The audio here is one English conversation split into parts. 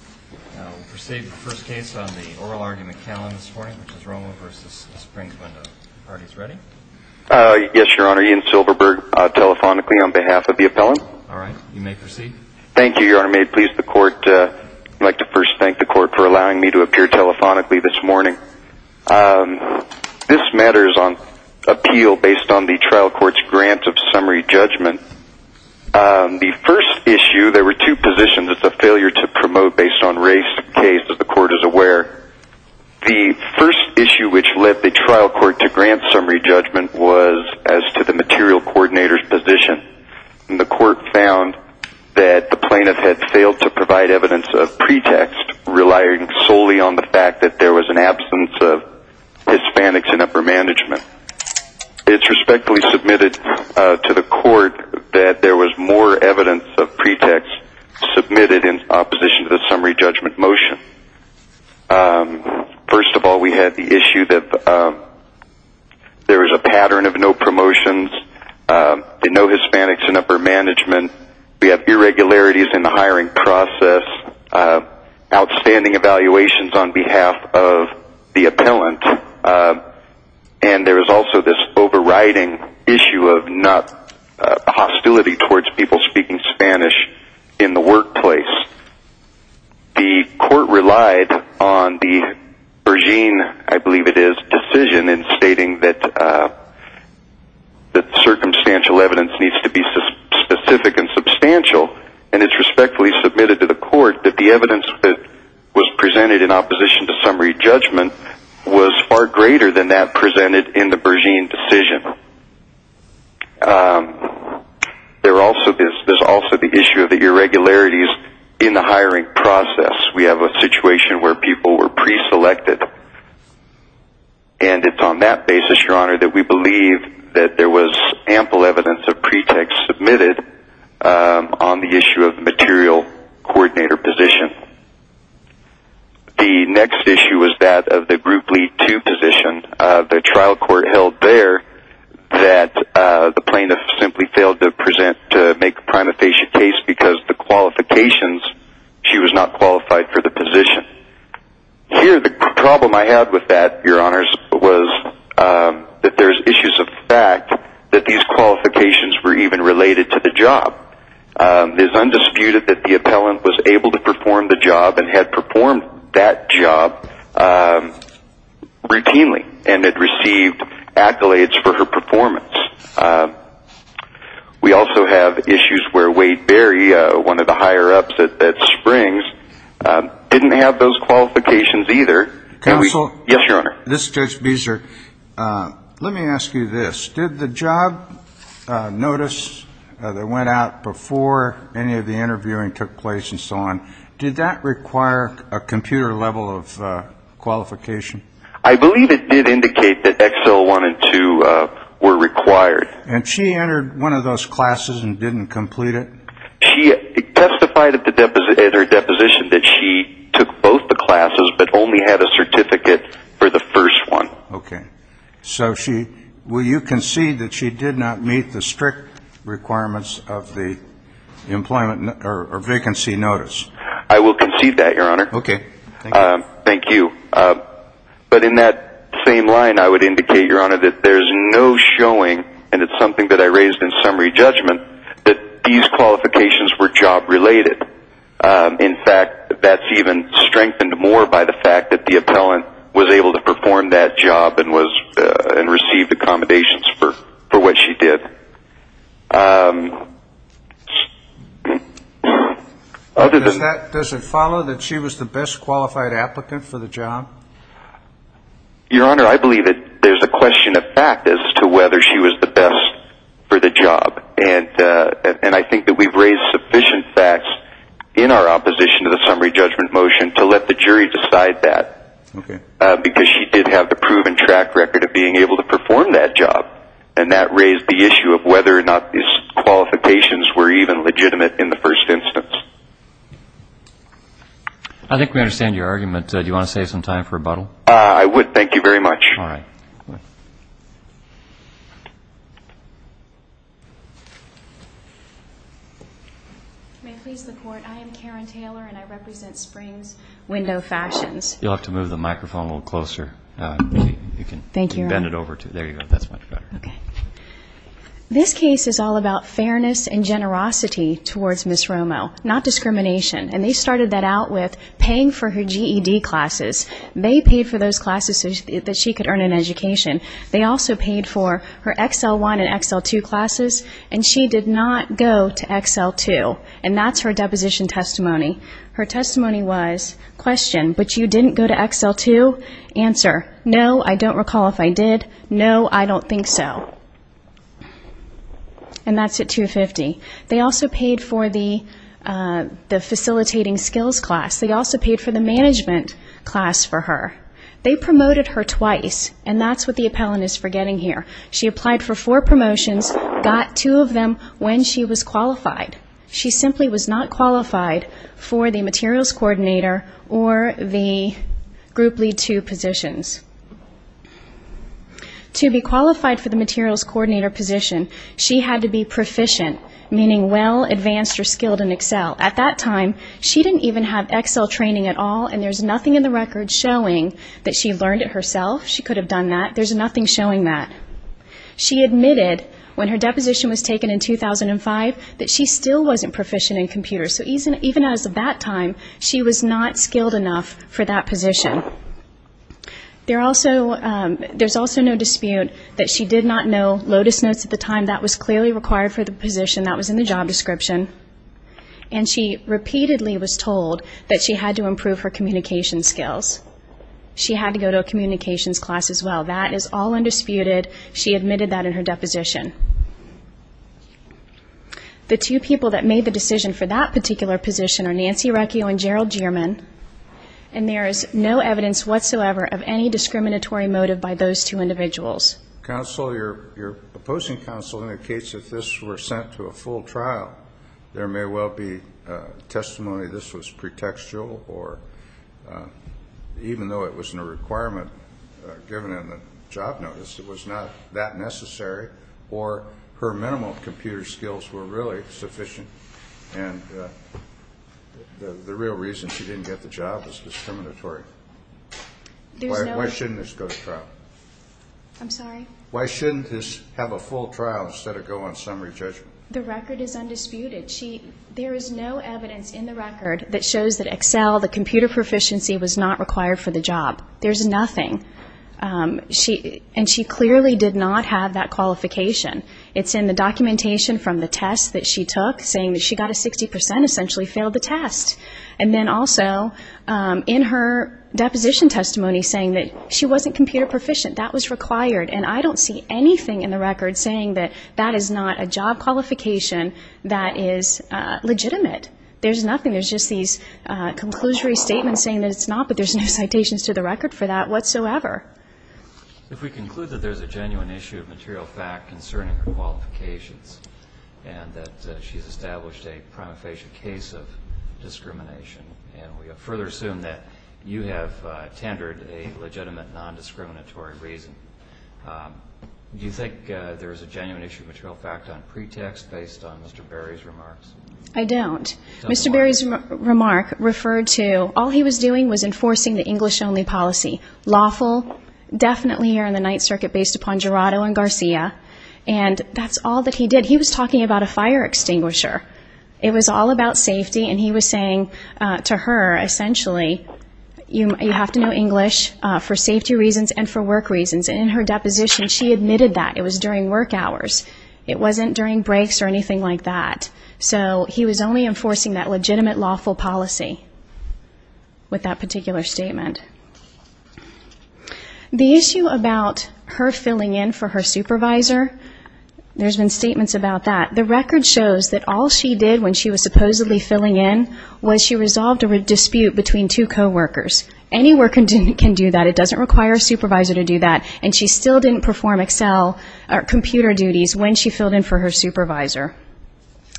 We'll proceed with the first case on the oral argument calendar this morning, which is Romo v. Springs Window. Are you ready? Yes, Your Honor. Ian Silverberg, telephonically, on behalf of the appellant. All right. You may proceed. Thank you, Your Honor. May it please the Court, I'd like to first thank the Court for allowing me to appear telephonically this morning. This matter is on appeal based on the trial court's grant of summary judgment. The first issue, there were two positions. It's a failure to promote based on race case, as the Court is aware. The first issue which led the trial court to grant summary judgment was as to the material coordinator's position. And the Court found that the plaintiff had failed to provide evidence of pretext, relying solely on the fact that there was an absence of Hispanics in upper management. It's respectfully submitted to the Court that there was more evidence of pretext submitted in opposition to the summary judgment motion. First of all, we had the issue that there was a pattern of no promotions, no Hispanics in upper management. We have irregularities in the hiring process, outstanding evaluations on behalf of the appellant. And there is also this overriding issue of not hostility towards people speaking Spanish in the workplace. The Court relied on the Bergine, I believe it is, decision in stating that circumstantial evidence needs to be specific and substantial. And it's respectfully submitted to the Court that the evidence that was presented in opposition to summary judgment was far greater than that presented in the Bergine decision. There's also the issue of the irregularities in the hiring process. We have a situation where people were preselected. And it's on that basis, Your Honor, that we believe that there was ample evidence of pretext submitted on the issue of the material coordinator position. The next issue was that of the Group Lead 2 position. The trial court held there that the plaintiff simply failed to make a prima facie case because of the qualifications. She was not qualified for the position. Here, the problem I had with that, Your Honors, was that there's issues of fact that these qualifications were even related to the job. It is undisputed that the appellant was able to perform the job and had performed that job routinely and had received accolades for her performance. We also have issues where Wade Berry, one of the higher-ups at Springs, didn't have those qualifications either. Counsel? Yes, Your Honor. This is Judge Beeser. Let me ask you this. Did the job notice that went out before any of the interviewing took place and so on, did that require a computer level of qualification? I believe it did indicate that Excel 1 and 2 were required. And she entered one of those classes and didn't complete it? She testified at her deposition that she took both the classes but only had a certificate for the first one. Okay. So you concede that she did not meet the strict requirements of the vacancy notice? I will concede that, Your Honor. Okay. Thank you. But in that same line, I would indicate, Your Honor, that there is no showing, and it's something that I raised in summary judgment, that these qualifications were job related. In fact, that's even strengthened more by the fact that the appellant was able to perform that job and received accommodations for what she did. Does it follow that she was the best qualified applicant for the job? Your Honor, I believe that there's a question of fact as to whether she was the best for the job. And I think that we've raised sufficient facts in our opposition to the summary judgment motion to let the jury decide that. Okay. Because she did have the proven track record of being able to perform that job. And that raised the issue of whether or not these qualifications were even legitimate in the first instance. I think we understand your argument. Do you want to save some time for rebuttal? I would. Thank you very much. All right. May it please the Court, I am Karen Taylor, and I represent Springs Window Fashions. Thank you, Your Honor. There you go. That's much better. Okay. This case is all about fairness and generosity towards Ms. Romo, not discrimination. And they started that out with paying for her GED classes. They paid for those classes so that she could earn an education. They also paid for her XL1 and XL2 classes. And she did not go to XL2. And that's her deposition testimony. Her testimony was, question, but you didn't go to XL2? Answer, no, I don't recall if I did. No, I don't think so. And that's at $250. They also paid for the facilitating skills class. They also paid for the management class for her. They promoted her twice, and that's what the appellant is forgetting here. She applied for four promotions, got two of them when she was qualified. She simply was not qualified for the materials coordinator or the group lead two positions. To be qualified for the materials coordinator position, she had to be proficient, meaning well advanced or skilled in Excel. At that time, she didn't even have Excel training at all, and there's nothing in the record showing that she learned it herself. She could have done that. There's nothing showing that. She admitted, when her deposition was taken in 2005, that she still wasn't proficient in computers. So even at that time, she was not skilled enough for that position. There's also no dispute that she did not know Lotus Notes at the time. That was clearly required for the position. That was in the job description. And she repeatedly was told that she had to improve her communication skills. She had to go to a communications class as well. That is all undisputed. She admitted that in her deposition. The two people that made the decision for that particular position are Nancy Recchio and Gerald Jeerman, and there is no evidence whatsoever of any discriminatory motive by those two individuals. Counsel, your opposing counsel indicates that this were sent to a full trial. There may well be testimony this was pretextual, or even though it was in a requirement given in the job notice, it was not that necessary, or her minimal computer skills were really sufficient, and the real reason she didn't get the job is discriminatory. Why shouldn't this go to trial? I'm sorry? Why shouldn't this have a full trial instead of go on summary judgment? The record is undisputed. There is no evidence in the record that shows that Excel, the computer proficiency, was not required for the job. There's nothing. And she clearly did not have that qualification. It's in the documentation from the test that she took saying that she got a 60%, essentially failed the test. And then also in her deposition testimony saying that she wasn't computer proficient. That was required. And I don't see anything in the record saying that that is not a job qualification that is legitimate. There's nothing. There's just these conclusory statements saying that it's not, but there's no citations to the record for that whatsoever. If we conclude that there's a genuine issue of material fact concerning her qualifications and that she's established a prima facie case of discrimination, and we further assume that you have tendered a legitimate nondiscriminatory reason, do you think there's a genuine issue of material fact on pretext based on Mr. Berry's remarks? I don't. Mr. Berry's remark referred to all he was doing was enforcing the English-only policy, lawful, definitely here in the Ninth Circuit based upon Gerardo and Garcia. And that's all that he did. He was talking about a fire extinguisher. It was all about safety, and he was saying to her, essentially, you have to know English for safety reasons and for work reasons. And in her deposition, she admitted that. It was during work hours. It wasn't during breaks or anything like that. So he was only enforcing that legitimate, lawful policy with that particular statement. The issue about her filling in for her supervisor, there's been statements about that. The record shows that all she did when she was supposedly filling in was she resolved a dispute between two coworkers. Any worker can do that. It doesn't require a supervisor to do that. And she still didn't perform Excel or computer duties when she filled in for her supervisor.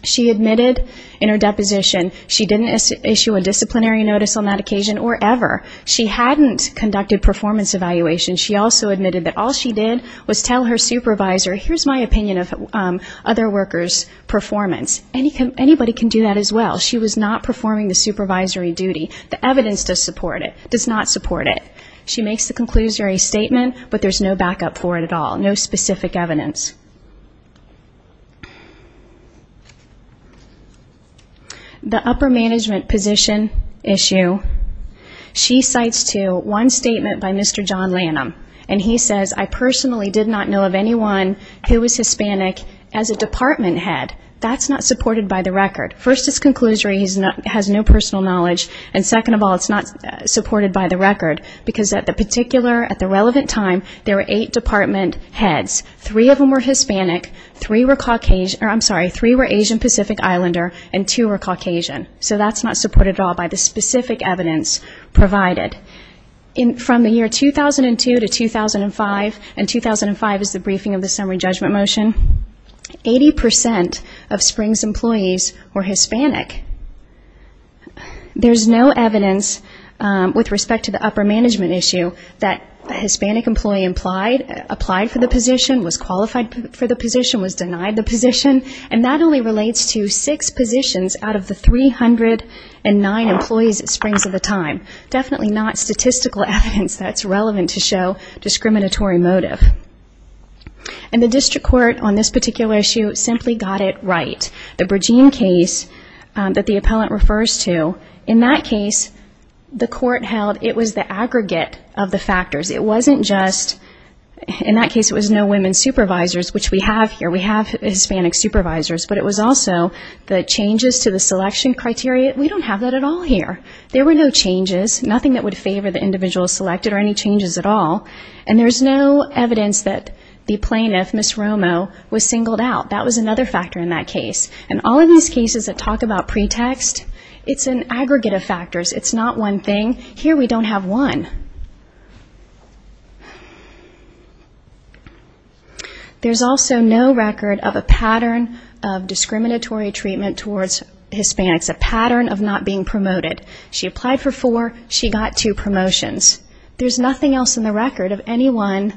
She admitted in her deposition she didn't issue a disciplinary notice on that occasion or ever. She hadn't conducted performance evaluation. She also admitted that all she did was tell her supervisor, here's my opinion of other workers' performance. Anybody can do that as well. She was not performing the supervisory duty. The evidence does not support it. She makes the conclusory statement, but there's no backup for it at all, no specific evidence. The upper management position issue, she cites to one statement by Mr. John Lanham, and he says, I personally did not know of anyone who was Hispanic as a department head. That's not supported by the record. First, it's conclusory. He has no personal knowledge. And second of all, it's not supported by the record because at the relevant time, there were eight department heads. Three of them were Hispanic. Three were Caucasian. I'm sorry, three were Asian Pacific Islander, and two were Caucasian. So that's not supported at all by the specific evidence provided. From the year 2002 to 2005, and 2005 is the briefing of the summary judgment motion, 80% of Springs employees were Hispanic. There's no evidence with respect to the upper management issue that a Hispanic employee applied for the position, was qualified for the position, was denied the position, and that only relates to six positions out of the 309 employees at Springs at the time. Definitely not statistical evidence that's relevant to show discriminatory motive. And the district court on this particular issue simply got it right. The Bergen case that the appellant refers to, in that case, the court held it was the aggregate of the factors. It wasn't just no women supervisors, which we have here. We have Hispanic supervisors. But it was also the changes to the selection criteria. We don't have that at all here. There were no changes, nothing that would favor the individual selected or any changes at all, and there's no evidence that the plaintiff, Ms. Romo, was singled out. That was another factor in that case. And all of these cases that talk about pretext, it's an aggregate of factors. It's not one thing. Here we don't have one. There's also no record of a pattern of discriminatory treatment towards Hispanics, a pattern of not being promoted. She applied for four. She got two promotions. There's nothing else in the record of anyone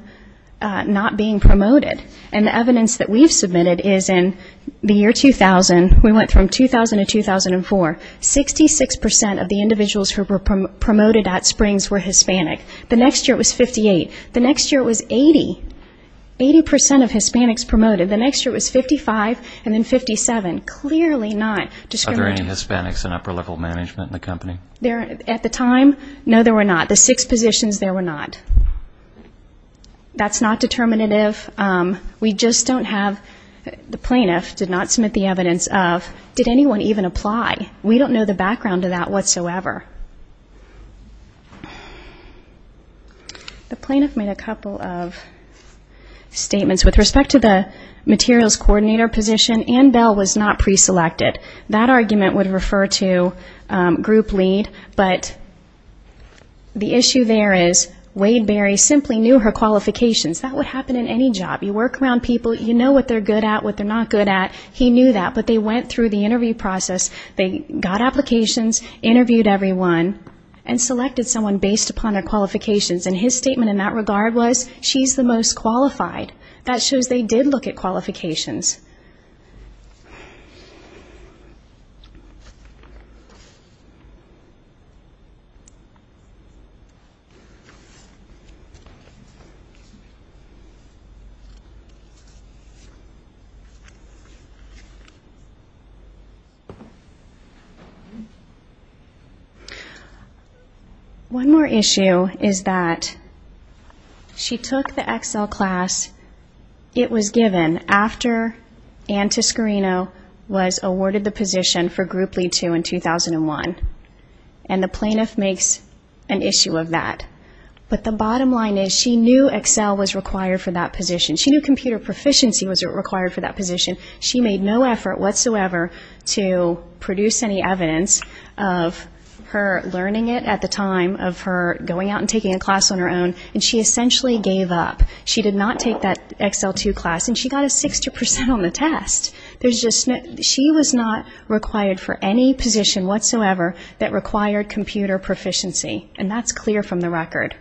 not being promoted. And the evidence that we've submitted is in the year 2000, we went from 2000 to 2004, 66 percent of the individuals who were promoted at Springs were Hispanic. The next year it was 58. The next year it was 80. Eighty percent of Hispanics promoted. The next year it was 55 and then 57. Clearly not discriminatory. Are there any Hispanics in upper-level management in the company? At the time, no, there were not. The six positions, there were not. That's not determinative. We just don't have the plaintiff did not submit the evidence of did anyone even apply. We don't know the background of that whatsoever. The plaintiff made a couple of statements. With respect to the materials coordinator position, Ann Bell was not pre-selected. That argument would refer to group lead, but the issue there is Wade Berry simply knew her qualifications. That would happen in any job. You work around people. You know what they're good at, what they're not good at. He knew that, but they went through the interview process. They got applications, interviewed everyone, and selected someone based upon their qualifications. His statement in that regard was, she's the most qualified. That shows they did look at qualifications. One more issue is that she took the Excel class it was given after Ann Toscarino was awarded the position for group lead two in 2001, and the plaintiff makes an issue of that. But the bottom line is she knew Excel was required for that position. She knew computer proficiency was required for that position. She made no effort whatsoever to produce any evidence of her learning it at the time, of her going out and taking a class on her own, and she essentially gave up. She did not take that Excel 2 class, and she got a 60% on the test. She was not required for any position whatsoever that required computer proficiency, and that's clear from the record.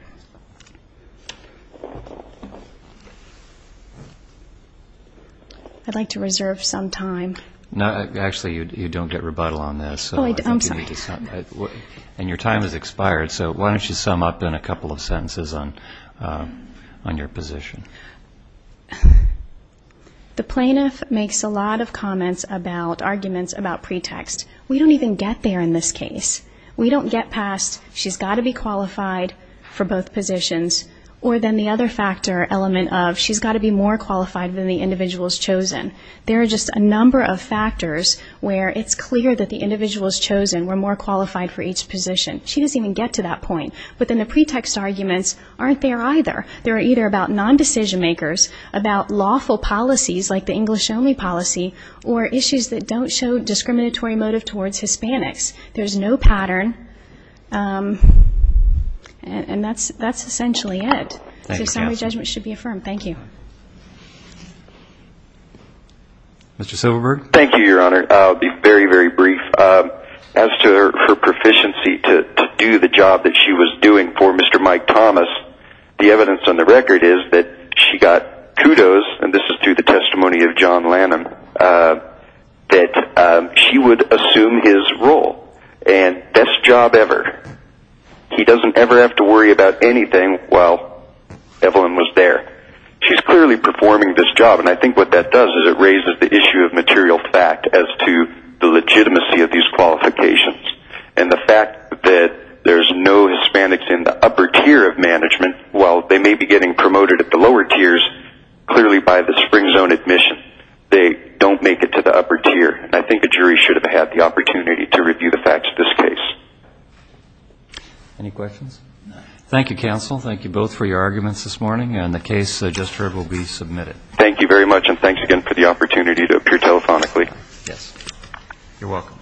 I'd like to reserve some time. Actually, you don't get rebuttal on this. I'm sorry. And your time has expired, so why don't you sum up in a couple of sentences on your position. The plaintiff makes a lot of comments about arguments about pretext. We don't even get there in this case. We don't get past she's got to be qualified for both positions, or then the other factor element of she's got to be more qualified than the individual's chosen. There are just a number of factors where it's clear that the individual's chosen were more qualified for each position. She doesn't even get to that point. But then the pretext arguments aren't there either. They're either about non-decision makers, about lawful policies like the English only policy, or issues that don't show discriminatory motive towards Hispanics. There's no pattern, and that's essentially it. So summary judgment should be affirmed. Thank you. Mr. Silverberg. Thank you, Your Honor. I'll be very, very brief. As to her proficiency to do the job that she was doing for Mr. Mike Thomas, the evidence on the record is that she got kudos, and this is through the testimony of John Lannan, that she would assume his role, and best job ever. He doesn't ever have to worry about anything while Evelyn was there. She's clearly performing this job, and I think what that does is it raises the issue of material fact as to the legitimacy of these qualifications and the fact that there's no Hispanics in the upper tier of management. While they may be getting promoted at the lower tiers, clearly by the spring zone admission, they don't make it to the upper tier. I think a jury should have had the opportunity to review the facts of this case. Any questions? Thank you, counsel. Thank you both for your arguments this morning, and the case just heard will be submitted. Thank you very much, and thanks again for the opportunity to appear telephonically. Yes. You're welcome.